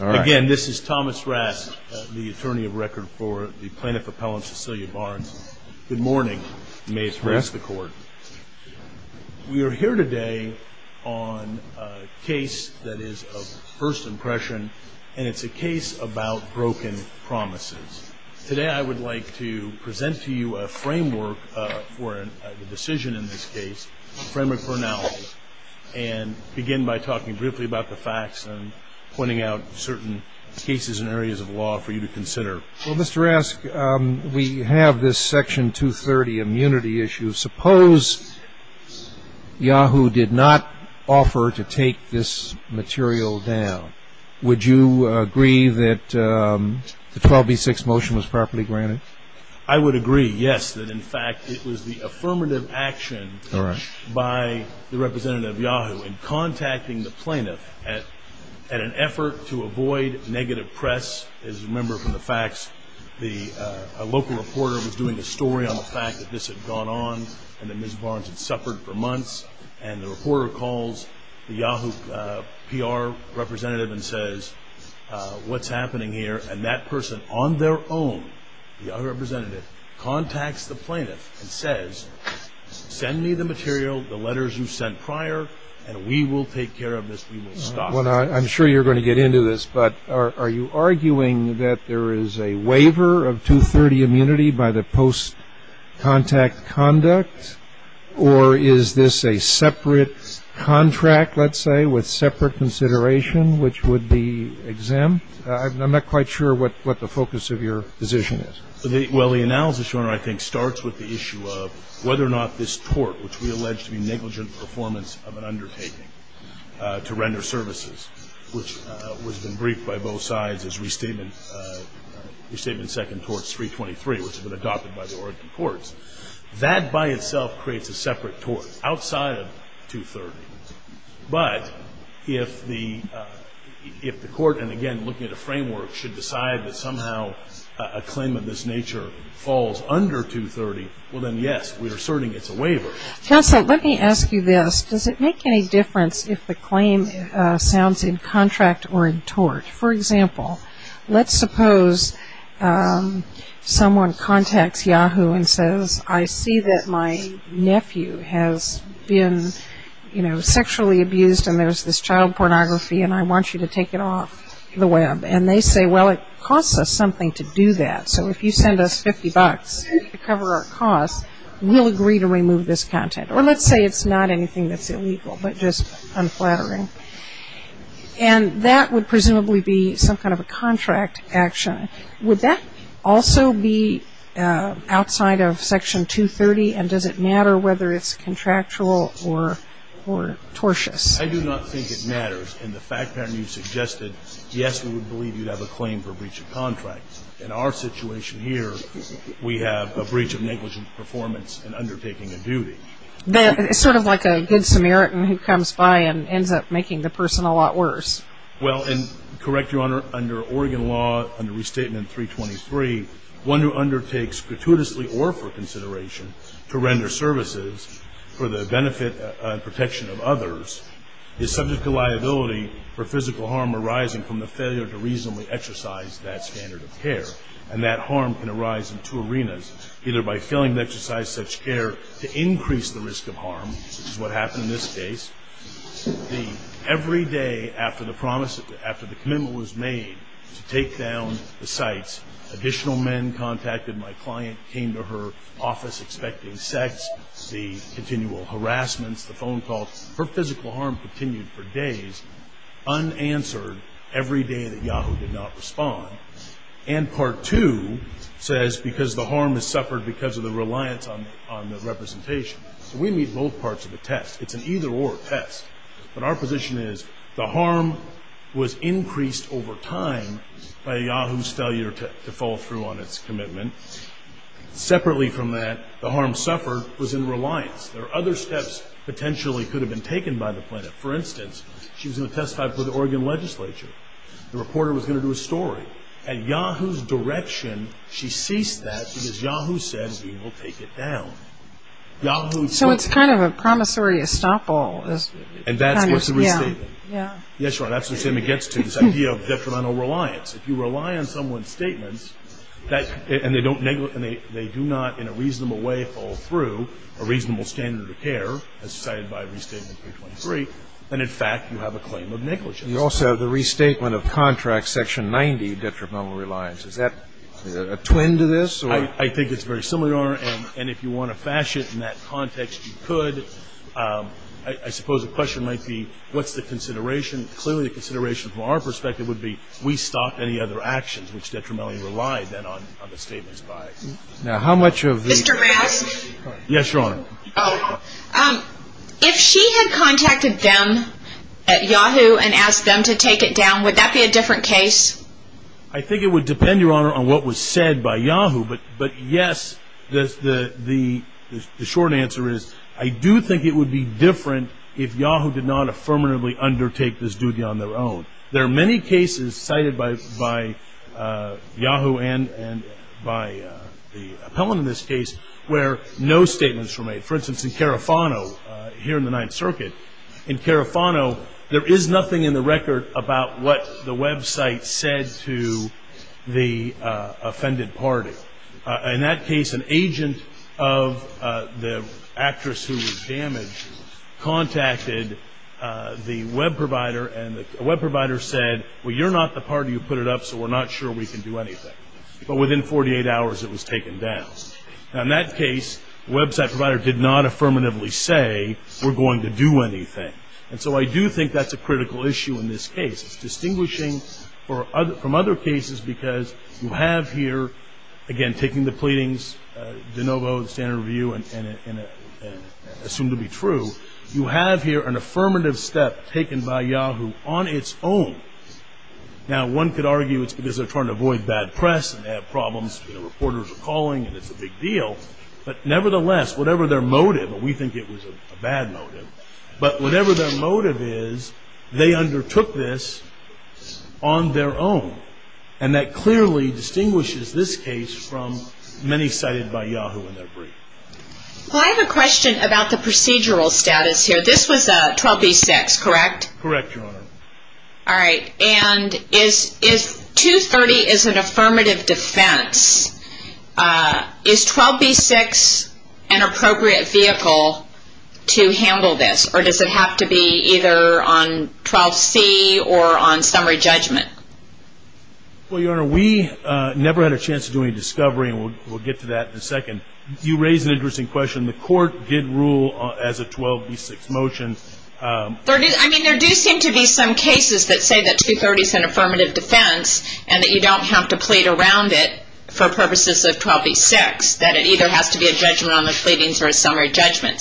Again, this is Thomas Rask, the attorney of record for the plaintiff appellant Cecilia Barnes. Good morning. May it rest the court. We are here today on a case that is of first impression and it's a case about broken promises. Today I would like to present to you a framework for the decision in this case, a framework for analysis, and begin by talking briefly about the facts and pointing out certain cases and areas of law for you to consider. Well, Mr. Rask, we have this Section 230 immunity issue. Suppose Yahoo did not offer to take this material down. Would you agree that the 12b-6 motion was properly granted? I would agree, yes, that in fact it was the affirmative action by the representative of Yahoo in contacting the plaintiff at an effort to avoid negative press. As you remember from the facts, a local reporter was doing a story on the fact that this had gone on and that Ms. Barnes had suffered for months and the reporter calls the Yahoo PR representative and says, what's happening here? And that person on their own, the Yahoo representative, contacts the plaintiff and says, send me the material, the letters you sent prior, and we will take care of this. We will stop it. I'm sure you're going to get into this, but are you arguing that there is a waiver of 230 immunity by the post-contact conduct or is this a separate contract, let's say, with the Oregon courts, which would be exempt? I'm not quite sure what the focus of your position is. Well, the analysis, Your Honor, I think starts with the issue of whether or not this tort, which we allege to be negligent performance of an undertaking to render services, which has been briefed by both sides as Restatement Second Torts 323, which has been adopted by the Oregon courts, that by itself creates a separate tort outside of 230. But if the court, and again, looking at a framework, should decide that somehow a claim of this nature falls under 230, well then, yes, we're asserting it's a waiver. Counsel, let me ask you this. Does it make any difference if the claim sounds in contract or in tort? For example, let's suppose someone contacts Yahoo and says, I see that my nephew has been, you know, sexually abused and there's this child pornography and I want you to take it off the web. And they say, well, it costs us something to do that. So if you send us 50 bucks to cover our costs, we'll agree to remove this content. Or let's say it's not anything that's illegal, but just unflattering. And that would presumably be some kind of a contract action. Would that also be outside of Section 230 and does it matter whether it's contractual or tortious? I do not think it matters. And the fact pattern you suggested, yes, we would believe you'd have a claim for breach of contract. In our situation here, we have a breach of negligent performance in undertaking a duty. It's sort of like a good Samaritan who comes by and ends up making the person a lot worse. Well, and correct Your Honor, under Oregon law, under Restatement 323, one who undertakes gratuitously or for consideration to render services for the benefit and protection of others is subject to liability for physical harm arising from the failure to reasonably exercise that standard of care. And that harm can arise in two arenas, either by failing to exercise such care to increase the risk of harm, which is what happened in this case. Every day after the promise, after the commitment was made to take down the sites, additional men contacted my client, came to her office expecting sex, the continual harassments, the phone calls. Her physical harm continued for days, unanswered, every day that Yahoo did not respond. And Part 2 says because the harm is suffered because of the reliance on the representation. We meet both parts of the test. It's an either-or test. But our position is the harm was increased over time by Yahoo's failure to follow through on its commitment. Separately from that, the harm suffered was in reliance. There are other steps potentially could have been taken by the plaintiff. For instance, she was going to testify before the Oregon legislature. The reporter was going to do a story. At Yahoo's direction, she ceased that because Yahoo said we will take it down. Yahoo's... So it's kind of a promissory estoppel. And that's what's the restatement. Yeah. Yes, Your Honor. That's the same it gets to, this idea of detrimental reliance. If you rely on someone's statements, and they do not in a reasonable way follow through a reasonable standard of care, as cited by Restatement 323, then in fact you have a claim of negligence. You also have the restatement of contract section 90, detrimental reliance. Is that a twin to this? I think it's very similar. And if you want to fashion it in that context, you could. I suppose the question might be, what's the consideration? Clearly, the consideration from our perspective would be, we stopped any other actions which detrimentally relied then on the statement's bias. Now how much of the... Mr. Rask? Yes, Your Honor. If she had contacted them at Yahoo and asked them to take it down, would that be a different case? I think it would depend, Your Honor, on what was said by Yahoo. But yes, the short answer is I do think it would be different if Yahoo did not affirmatively undertake this duty on their own. There are many cases cited by Yahoo and by the appellant in this case where no statements were made. For instance, in Carafano, here in the Ninth Circuit, in Carafano, there is nothing in the record about what the website said to the offended party. In that case, an agent of the actress who was damaged contacted the web provider, and the web provider said, well, you're not the party who put it up, so we're not sure we can do anything. But within 48 hours, it was taken down. Now in that case, the website provider did not affirmatively say, we're going to do anything. And so I do think that's a critical issue in this case. It's distinguishing from other cases because you have here, again, taking the pleadings, de novo, the standard review, and assumed to be true, you have here an affirmative step taken by Yahoo on its own. Now one could argue it's because they're trying to avoid bad press and have problems. You know, reporters are calling, and it's a big deal. But nevertheless, whatever their motive, and we think it was a bad motive, but whatever their motive is, they undertook this on their own. And that clearly distinguishes this case from many cited by Yahoo in their brief. Well, I have a question about the procedural status here. This was a 12B6, correct? Correct, Your Honor. All right. And is 230 is an affirmative defense. Is 12B6 an appropriate vehicle to handle this? Or does it have to be either on 12C or on summary judgment? Well, Your Honor, we never had a chance to do any discovery, and we'll get to that in a second. You raised an interesting question. The court did rule as a 12B6 motion. I mean, there do seem to be some cases that say that 230 is an affirmative defense and that you don't have to plead around it for purposes of 12B6, that it either has to be a judgment on the pleadings or a summary judgment.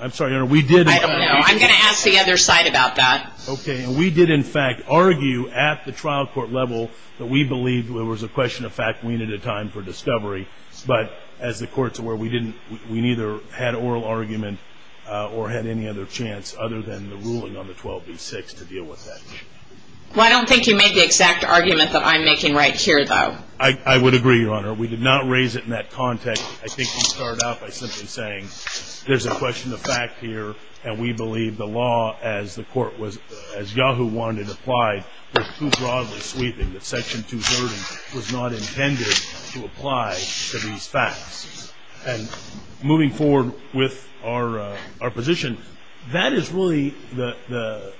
I'm sorry, Your Honor, we did... I don't know. I'm going to ask the other side about that. Okay. And we did, in fact, argue at the trial court level that we believed there was a question of fact, we needed a time for discovery. But as the court's aware, we neither had oral argument or had any other chance other than the ruling on the 12B6 to deal with that. Well, I don't think you made the exact argument that I'm making right here, though. I would agree, Your Honor. We did not raise it in that context. I think we started out by simply saying there's a question of fact here, and we believe the law as the court was, as Yahoo wanted, applied was too broadly sweeping, that Section 230 was not intended to apply to these facts. And moving forward with our position, that is really the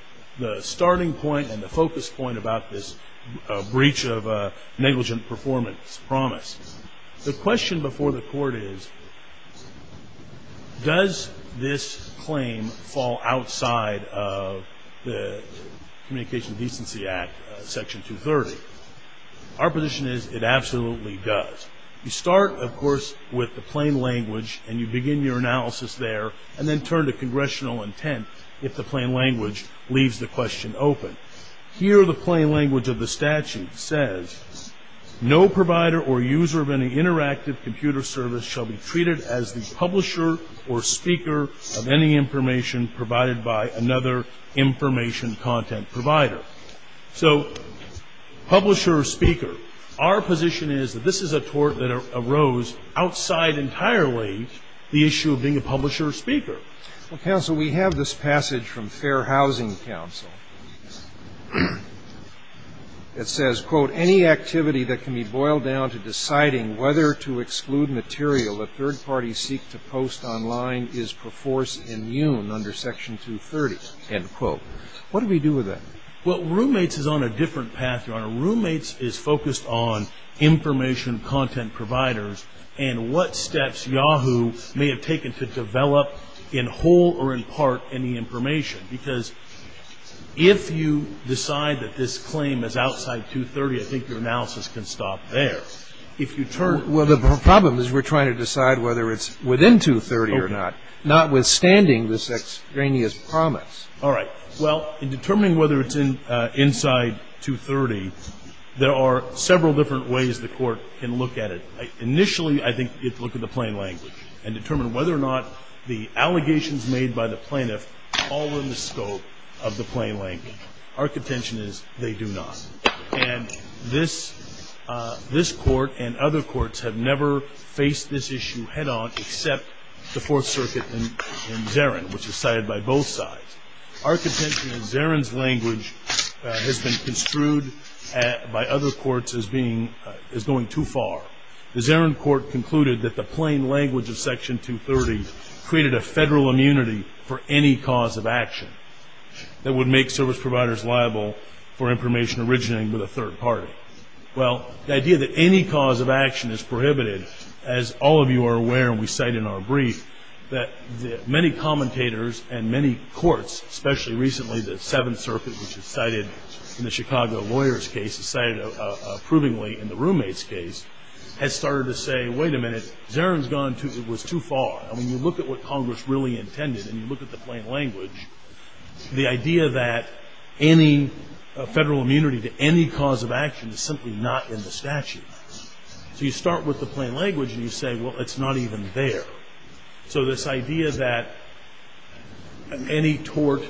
starting point and the focus point about this breach of negligent performance promise. The question before the court is, does this claim fall outside of the Communication Decency Act, Section 230? Our position is it absolutely does. You start, of course, with the plain language, and you begin your analysis there, and then turn to congressional intent if the statute says, no provider or user of any interactive computer service shall be treated as the publisher or speaker of any information provided by another information content provider. So publisher or speaker, our position is that this is a tort that arose outside Well, counsel, we have this passage from Fair Housing Council that says, quote, Any activity that can be boiled down to deciding whether to exclude material that third parties seek to post online is perforce immune under Section 230, end quote. What do we do with that? Well, roommates is on a different path, Your Honor. Roommates is focused on information content providers and what steps Yahoo may have taken to develop in whole or in part any information. Because if you decide that this claim is outside 230, I think your analysis can stop there. If you turn Well, the problem is we're trying to decide whether it's within 230 or not, notwithstanding this extraneous promise. All right. Well, in determining whether it's inside 230, there are several different ways the Court can look at it. Initially, I think you have to look at the plain language and determine whether or not the allegations made by the plaintiff fall within the scope of the plain language. Our contention is they do not. And this Court and other courts have never faced this issue head on except the Fourth Circuit in Zarin, which is cited by both sides. Our contention is Zarin's language has been construed by other courts as going too far. The Zarin Court concluded that the plain language of Section 230 created a federal immunity for any cause of action that would make service providers liable for information originating with a third party. Well, the idea that any cause of action is prohibited, as all of you are aware and we cite in our brief, that many commentators and many courts, especially recently the Seventh Year's case, cited approvingly in the roommate's case, had started to say, wait a minute, Zarin's gone too far. I mean, you look at what Congress really intended and you look at the plain language, the idea that any federal immunity to any cause of action is simply not in the statute. So you start with the plain language and you say, well, it's not even there. So this idea that any tort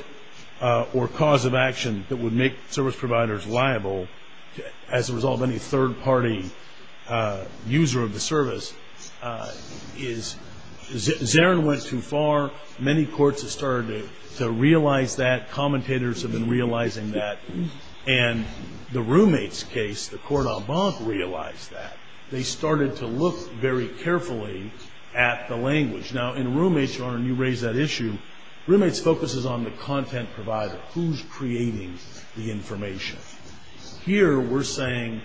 or cause of action that would make service providers liable is as a result of any third party user of the service is Zarin went too far. Many courts have started to realize that. Commentators have been realizing that. And the roommate's case, the court en banc realized that. They started to look very carefully at the language. Now in roommate's, Your Honor, and you raised that issue, roommate's focuses on the content provider, who's creating the information. Here we're saying,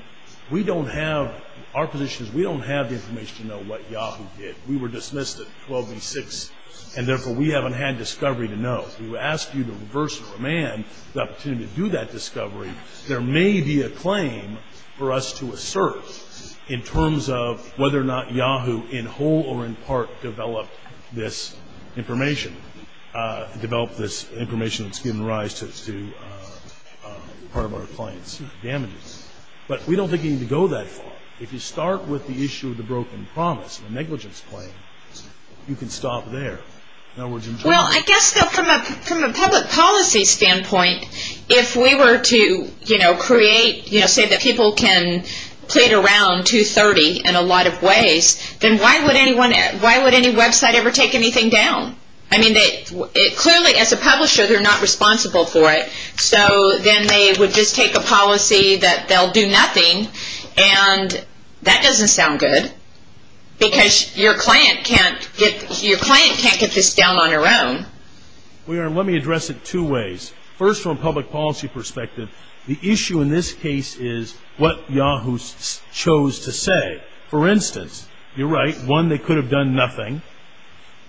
we don't have, our position is we don't have the information to know what Yahoo did. We were dismissed at 12 v. 6 and therefore we haven't had discovery to know. We would ask you to reverse command the opportunity to do that discovery. There may be a claim for us to assert in terms of whether or not it's given rise to part of our client's damages. But we don't think you need to go that far. If you start with the issue of the broken promise, the negligence claim, you can stop there. Well, I guess from a public policy standpoint, if we were to create, say that people can plead around 230 in a lot of ways, then why would any website ever take anything down? I mean, clearly as a publisher they're not responsible for it. So then they would just take a policy that they'll do nothing and that doesn't sound good. Because your client can't get this down on their own. Your Honor, let me address it two ways. First, from a public policy perspective, the issue in this case is what Yahoo chose to say. For instance, you're right, one, they could have done nothing.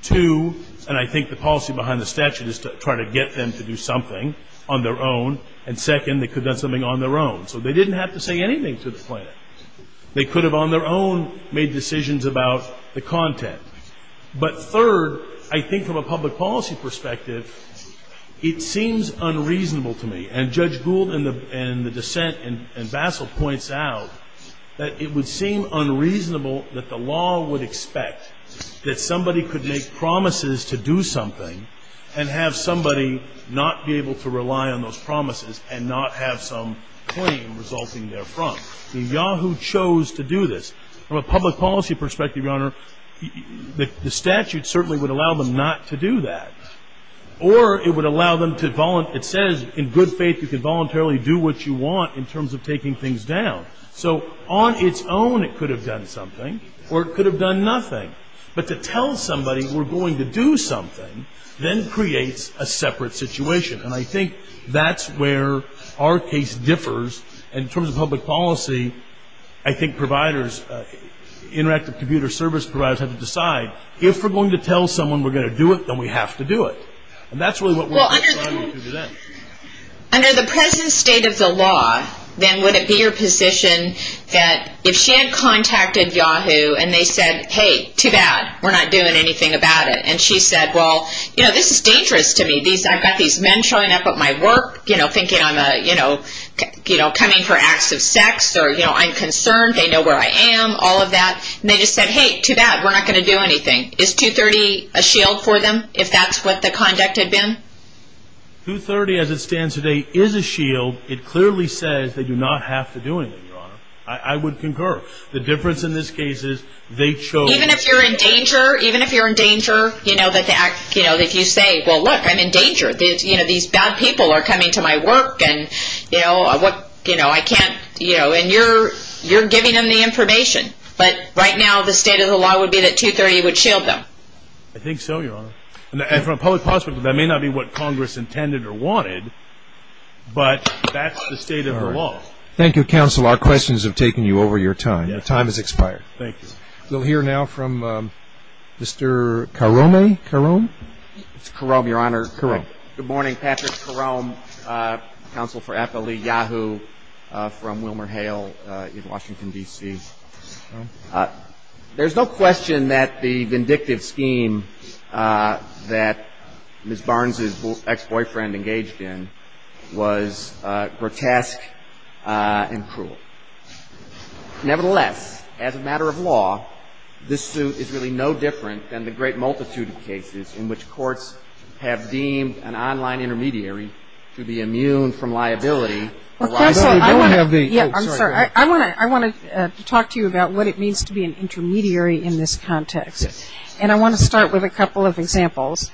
Two, and I think the policy behind the statute is to try to get them to do something on their own. And second, they could have done something on their own. So they didn't have to say anything to the plaintiff. They could have on their own made decisions about the content. But third, I think from a public policy perspective, it seems unreasonable to me. And Judge Gould and the dissent and Bassel points out that it would seem unreasonable that the law would expect that somebody could make promises to do something and have somebody not be able to rely on those promises and not have some claim resulting therefrom. Yahoo chose to do this. From a public policy perspective, Your Honor, the statute certainly would allow them not to do that. Or it would allow them to it says in good faith you can voluntarily do what you want in terms of taking things down. So on its own it could have done something or it could have done nothing. But to tell somebody we're going to do something then creates a separate situation. And I think that's where our case differs. And in terms of public policy, I think providers, interactive computer service providers have to decide if we're going to tell someone we're going to do it, then we have to do it. And that's really what we're deciding to do then. Under the present state of the law, then would it be your position that if she had contacted Yahoo and they said, hey, too bad, we're not doing anything about it. And she said, well, you know, this is dangerous to me. I've got these men showing up at my work, you know, thinking I'm a, you know, coming for acts of sex or, you know, I'm concerned, they know where I am, all of that. And they just said, hey, too bad, we're not going to do anything. Is 230 a shield for them, if that's what the conduct had been? 230, as it stands today, is a shield. It clearly says that you do not have to do anything, Your Honor. I would concur. The difference in this case is they chose... Even if you're in danger, even if you're in danger, you know, that the act, you know, if you say, well, look, I'm in danger. You know, these bad people are coming to my work and, you know, what, you know, I can't, you know, and you're, you're giving them the information. But right now, the state of the law would be that 230 would shield them. I think so, Your Honor. And from a public perspective, that may not be what Congress intended or wanted, but that's the state of the law. Thank you, Counsel. Our questions have taken you over your time. Your time has expired. Thank you. We'll hear now from Mr. Karome. Karome? It's Karome, Your Honor. Karome. Good morning. Patrick Karome, counsel for FLE Yahoo, from WilmerHale in Washington, D.C. There's no question that the vindictive scheme that Ms. Barnes' ex-boyfriend engaged in was grotesque and cruel. Nevertheless, as a matter of law, this suit is really no different than the great multitude of cases in which courts have deemed an online intermediary to be immune from liability... Well, counsel, I want to... No, you don't have the... ...what it means to be an intermediary in this context. And I want to start with a couple of examples.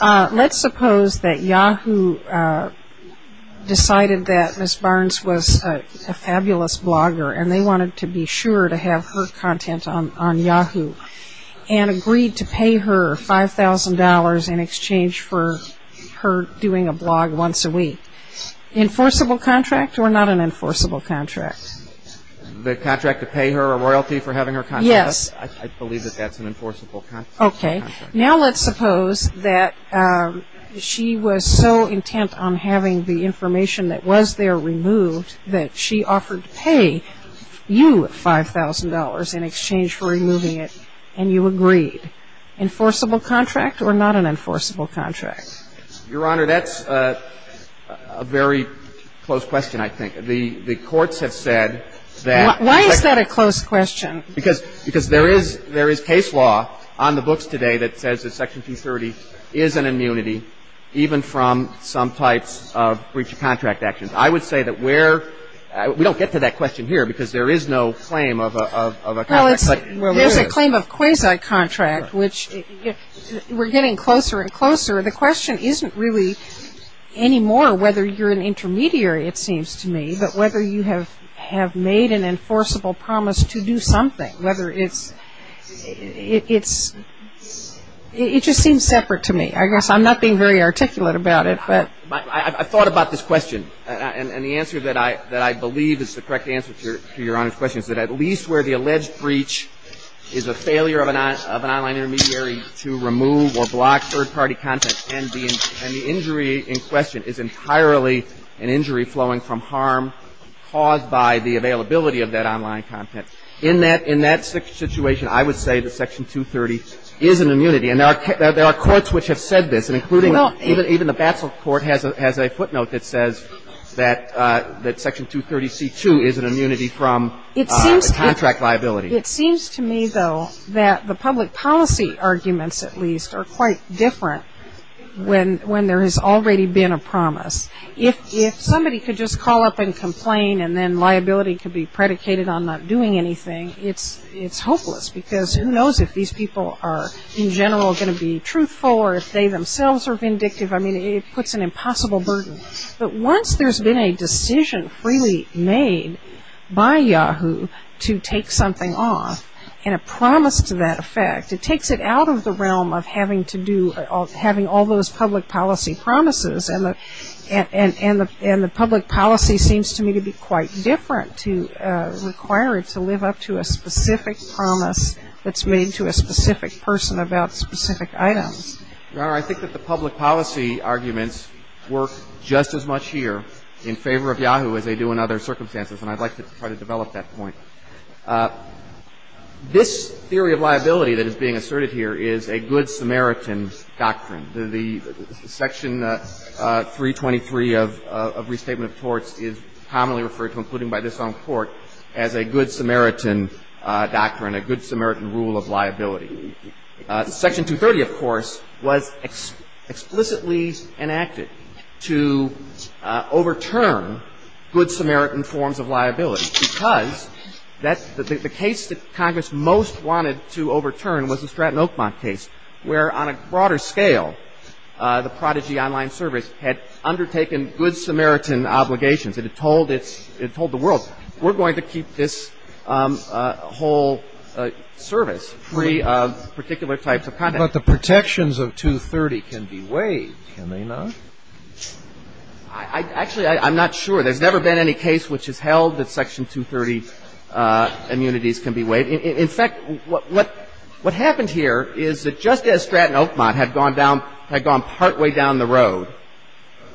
Let's suppose that Yahoo decided that Ms. Barnes was a fabulous blogger and they wanted to be sure to have her content on Yahoo and agreed to pay her $5,000 in exchange for her doing a blog once a week. Enforceable contract or not an enforceable contract? The contract to pay her a royalty for having her content? Yes. I believe that that's an enforceable contract. Okay. Now let's suppose that she was so intent on having the information that was there removed that she offered to pay you $5,000 in exchange for removing it and you agreed. Enforceable contract or not an enforceable contract? Your Honor, that's a very close question, I think. The courts have said that... Why is that a close question? Because there is case law on the books today that says that Section 230 is an immunity even from some types of breach of contract actions. I would say that we're... We don't get to that question here because there is no claim of a contract. Well, there's a claim of quasi-contract, which we're getting closer and closer. The question isn't really anymore whether you're an intermediary, it seems to me, but whether you have made an enforceable promise to do something, whether it's... It just seems separate to me. I guess I'm not being very articulate about it, but... I thought about this question and the answer that I believe is the correct answer to Your Honor's question is that at least where the alleged breach is a failure of an online intermediary to remove or block third-party content, and the injury in question is entirely an injury flowing from harm caused by the availability of that online content, in that situation, I would say that Section 230 is an immunity. And there are courts which have said this, and including even the Basel Court has a footnote that says that Section 230C2 is an immunity from contract liability. It seems to me, though, that the public policy arguments, at least, are quite different when there has already been a promise. If somebody could just call up and complain and then liability could be predicated on not doing anything, it's hopeless because who knows if these people are, in general, going to be truthful or if they themselves are vindictive. I mean, it puts an impossible burden. But once there's been a decision freely made by Yahoo to take something off, and a promise to that effect, it takes it out of the realm of having to do or having all those public policy promises. And the public policy seems to me to be quite different to require it to live up to a specific promise that's made to a specific person about specific items. Your Honor, I think that the public policy arguments work just as much here in favor of Yahoo as they do in other circumstances, and I'd like to try to develop that point. This theory of liability that is being asserted here is a good Samaritan doctrine. The Section 323 of Restatement of Torts is commonly referred to, including by this own Court, as a good Samaritan doctrine, a good Samaritan rule of liability. Section 230, of course, was explicitly enacted to overturn good Samaritan forms of liability because the case that Congress most wanted to overturn was the Stratton Oakmont case, where, on a broader scale, the Prodigy Online Service had undertaken good Samaritan obligations. It had told the world, we're going to keep this whole service free of particular types of conduct. But the protections of 230 can be waived, can they not? Actually, I'm not sure. There's never been any case which has held that Section 230 immunities can be waived. In fact, what happened here is that just as Stratton Road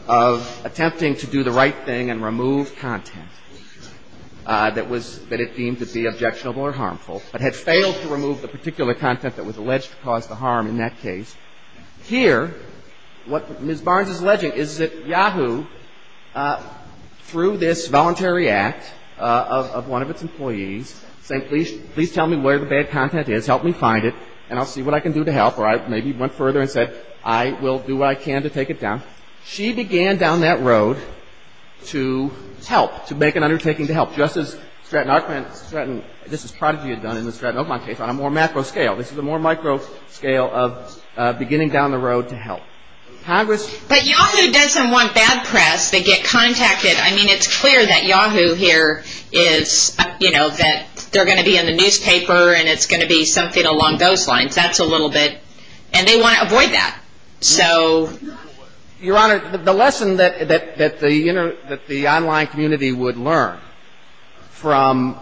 of attempting to do the right thing and remove content that it deemed to be objectionable or harmful, but had failed to remove the particular content that was alleged to cause the harm in that case, here, what Ms. Barnes is alleging is that Yahoo, through this voluntary act of one of its employees, saying, please tell me where the bad content is, help me find it, and I'll see what I can do to help, or I maybe went further and said, I will do what I can to take it down, she began down that road to help, to make an undertaking to help, just as Stratton, this is Prodigy had done in the Stratton Oakmont case on a more macro scale. This is a more micro scale of beginning down the road to help. But Yahoo doesn't want bad press. They get contacted. I mean, it's clear that Yahoo here is, you know, that they're going to be in the newspaper and it's going to be something along those lines. That's a little bit, and they want to avoid that. So. Your Honor, the lesson that the online community would learn from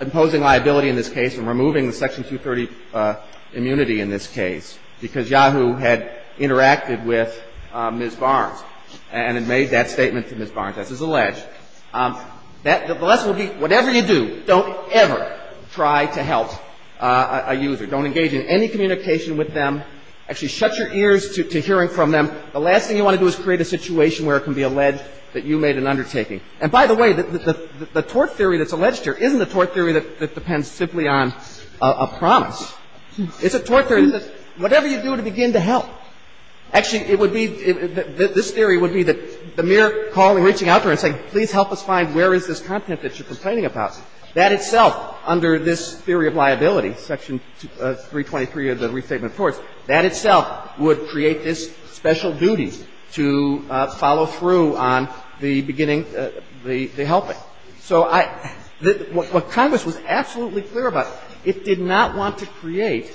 imposing liability in this case and removing the Section 230 immunity in this case, because Yahoo had interacted with Ms. Barnes and had made that statement to Ms. Barnes, as is alleged, the lesson would be, whatever you do, don't ever try to help a user. Don't engage in any communication with them. Actually, shut your ears to hearing from them. The last thing you want to do is create a situation where it can be alleged that you made an undertaking. And by the way, the tort theory that's alleged here isn't a tort theory that depends simply on a promise. It's a tort theory that whatever you do to begin to help. Actually, it would be, this theory would be that the mere calling, reaching out to her and saying, please help us find where is this content that you're complaining about, that itself, under this theory of liability, Section 323 of the Restatement of Torts, that itself would create this special duty to follow through on the beginning, the helping. So what Congress was absolutely clear about, it did not want to create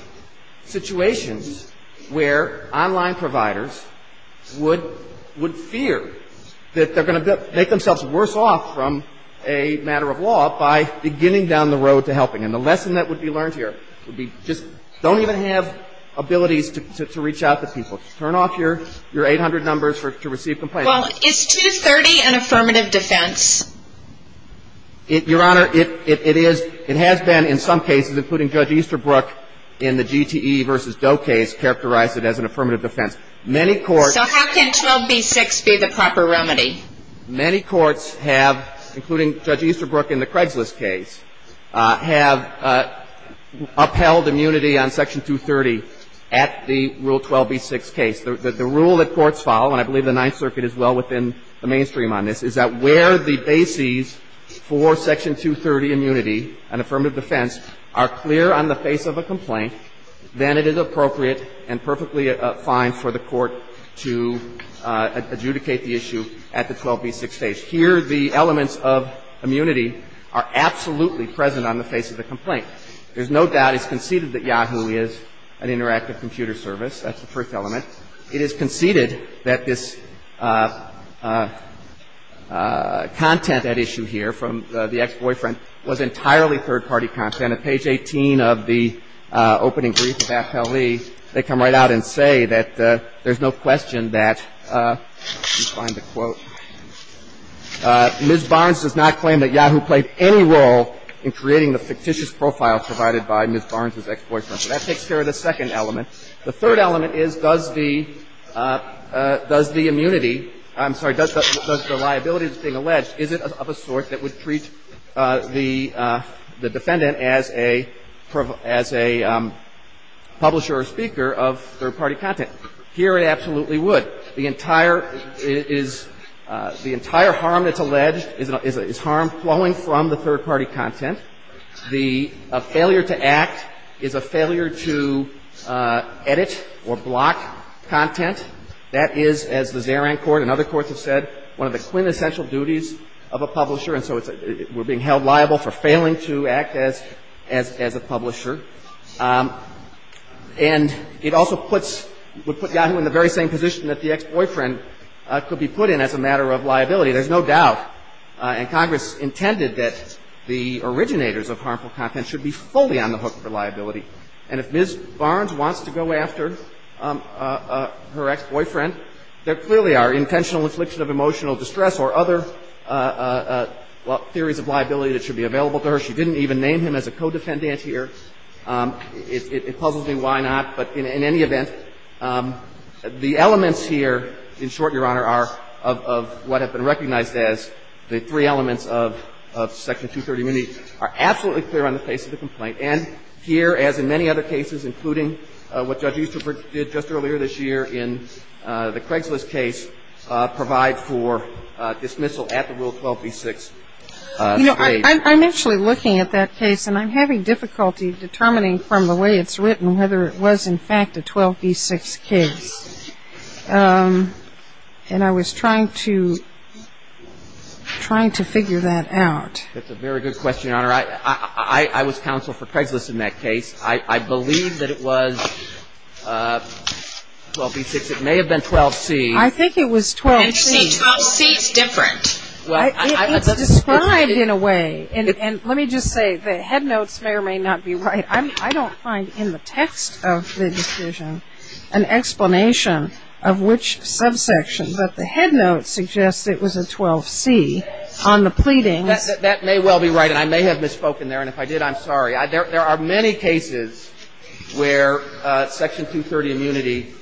situations where a matter of law by beginning down the road to helping. And the lesson that would be learned here would be, just don't even have abilities to reach out to people. Turn off your 800 numbers to receive complaints. Well, is 230 an affirmative defense? Your Honor, it is. It has been in some cases, including Judge Easterbrook in the GTE versus Doe case, characterized it as an affirmative defense. Many courts So how can 12b-6 be the proper remedy? Many courts have, including Judge Easterbrook in the Craigslist case, have upheld immunity on Section 230 at the Rule 12b-6 case. The rule that courts follow, and I believe the Ninth Circuit is well within the mainstream on this, is that where the bases for Section 230 immunity and affirmative defense are clear on the face of a complaint, then it is appropriate and perfectly fine for the court to adjudicate the issue at the 12b-6 stage. Here, the elements of immunity are absolutely present on the face of the complaint. There's no doubt it's conceded that Yahoo is an interactive computer service. That's the first element. It is conceded that this content at issue here from the ex-boyfriend was entirely third-party content. At page 18 of the opening brief of AFL-E, they come right out and say that there's no question that, let me find the quote, Ms. Barnes does not claim that Yahoo played any role in creating the fictitious profile provided by Ms. Barnes' ex-boyfriend. So that takes care of the second element. The third element is, does the immunity – I'm sorry, does the liability that's being present as a publisher or speaker of third-party content? Here, it absolutely would. The entire harm that's alleged is harm flowing from the third-party content. The failure to act is a failure to edit or block content. That is, as the Zaran court and other courts have said, one of the quintessential duties of a publisher, and so we're being held liable for failing to act as a publisher. And it also puts – would put Yahoo in the very same position that the ex-boyfriend could be put in as a matter of liability. There's no doubt, and Congress intended that the originators of harmful content should be fully on the hook for liability. And if Ms. Barnes wants to go after her ex-boyfriend, there clearly are intentional infliction of emotional distress or other, well, theories of liability that should be available to her. She didn't even name him as a co-defendant here. It puzzles me why not, but in any event, the elements here, in short, Your Honor, are – of what have been recognized as the three elements of Section 230 immunity are absolutely clear on the face of the complaint. And here, as in many other cases, including what Judge Easterford did just earlier this year in the Craigslist case, provide for dismissal at the Rule 12b-6 stage. You know, I'm actually looking at that case, and I'm having difficulty determining from the way it's written whether it was in fact a 12b-6 case. And I was trying to – trying to figure that out. That's a very good question, Your Honor. I was counsel for Craigslist in that case. I believe that it was 12b-6. It may have been 12c. I think it was 12c. And you say 12c is different. It's described in a way – and let me just say, the headnotes may or may not be right. I don't find in the text of the decision an explanation of which subsection. But the headnotes suggest it was a 12c on the pleadings. That may well be right, and I may have misspoken there. And if I did, I'm sorry. There are many cases where Section 230 immunity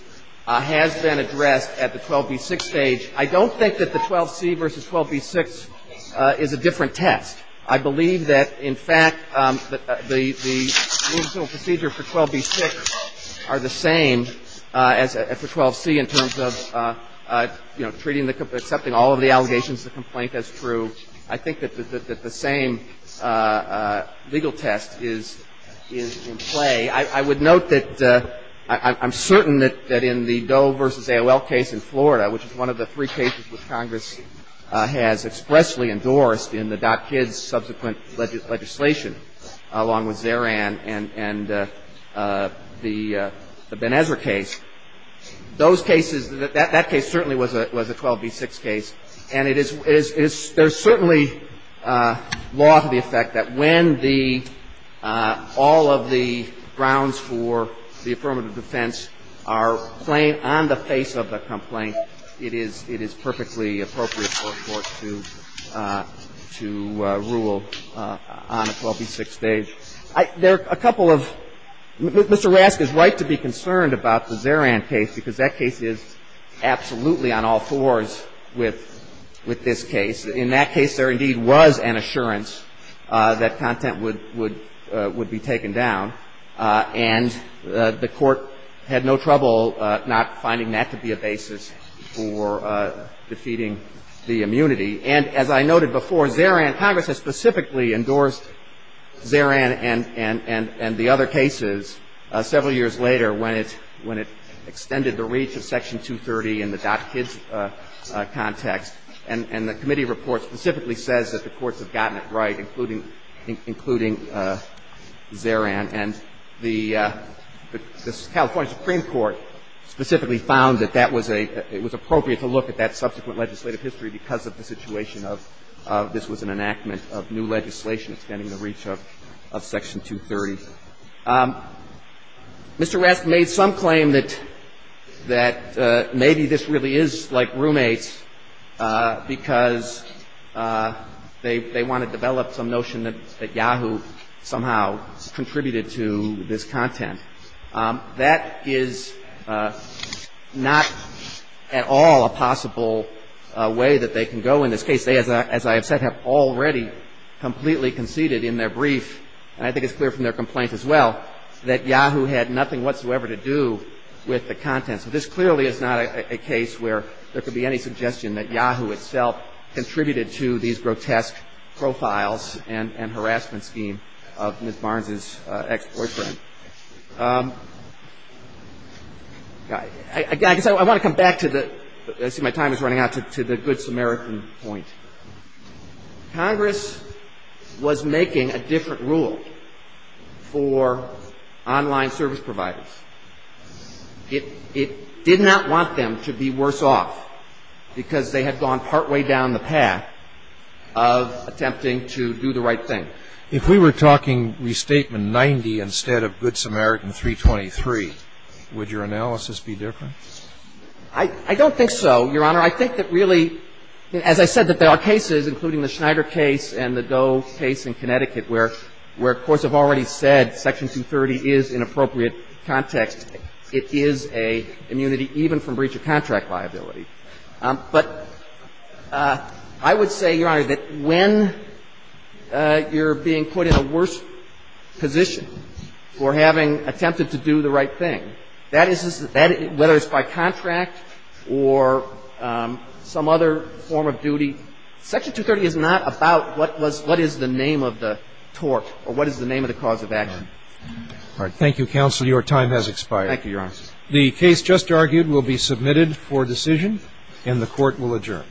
has been addressed at the 12b-6 stage. I don't think that the 12c versus 12b-6 is a different test. I believe that, in fact, the procedural procedure for 12b-6 are the same as for 12c in terms of, you know, treating the – accepting all of the allegations of the complaint as true. I think that the same legal test is in play. I would note that – I'm certain that in the Doe versus AOL case in Florida, which is one of the three cases which Congress has expressly endorsed in the DotKids subsequent legislation, along with Zeran and the Ben Ezra case, those cases – that case certainly was a 12b-6 case. And it is – there's certainly law to the effect that when the – all of the grounds for the affirmative defense are plain on the face of the complaint, it is perfectly appropriate for a court to rule on a 12b-6 stage. There are a couple of – Mr. Rask is right to be concerned about the Zeran case because that case is absolutely on all fours with this case. In that case, there indeed was an assurance that content would be taken down. And the Court had no trouble not finding that to be a basis for defeating the immunity. And as I noted before, Zeran – Congress has specifically endorsed Zeran and the other cases several years later when it extended the reach of Section 230 in the DotKids context. And the committee report specifically says that the courts have gotten it right, including – including Zeran. And the – the California Supreme Court specifically found that that was a – it was appropriate to look at that subsequent legislative history because of the situation of this was an enactment of new legislation extending the reach of Section 230. Mr. Rask made some claim that – that maybe this really is like roommates because they – they want to develop some notion that – that Yahoo somehow contributed to this content. That is not at all a possible way that they can go in this case. They, as I have said, have already completely conceded in their brief, and I think it's clear from their complaints as well, that Yahoo had nothing whatsoever to do with the content. So this clearly is not a case where there could be any suggestion that Yahoo itself contributed to these grotesque profiles and harassment scheme of Ms. Barnes's ex-boyfriend. I guess I want to come back to the – I see my time is running out – to the Good Samaritan point. Congress was making a different rule for online service providers. It – it did not want them to be worse off because they had gone partway down the path of attempting to do the right thing. If we were talking Restatement 90 instead of Good Samaritan 323, would your analysis be different? I – I don't think so, Your Honor. I think that really – as I said, that there are cases, including the Schneider case and the Doe case in Connecticut, where courts have already said Section 230 is, in appropriate context, it is a immunity even from breach of contract liability. But I would say, Your Honor, that when you're being put in a worse position for having attempted to do the right thing, that is – whether it's by contract or some other form of duty, Section 230 is not about what was – what is the name of the tort or what is the name of the cause of action. All right. Thank you, Counsel. Your time has expired. Thank you, Your Honor. The case just argued will be submitted for decision, and the Court will adjourn.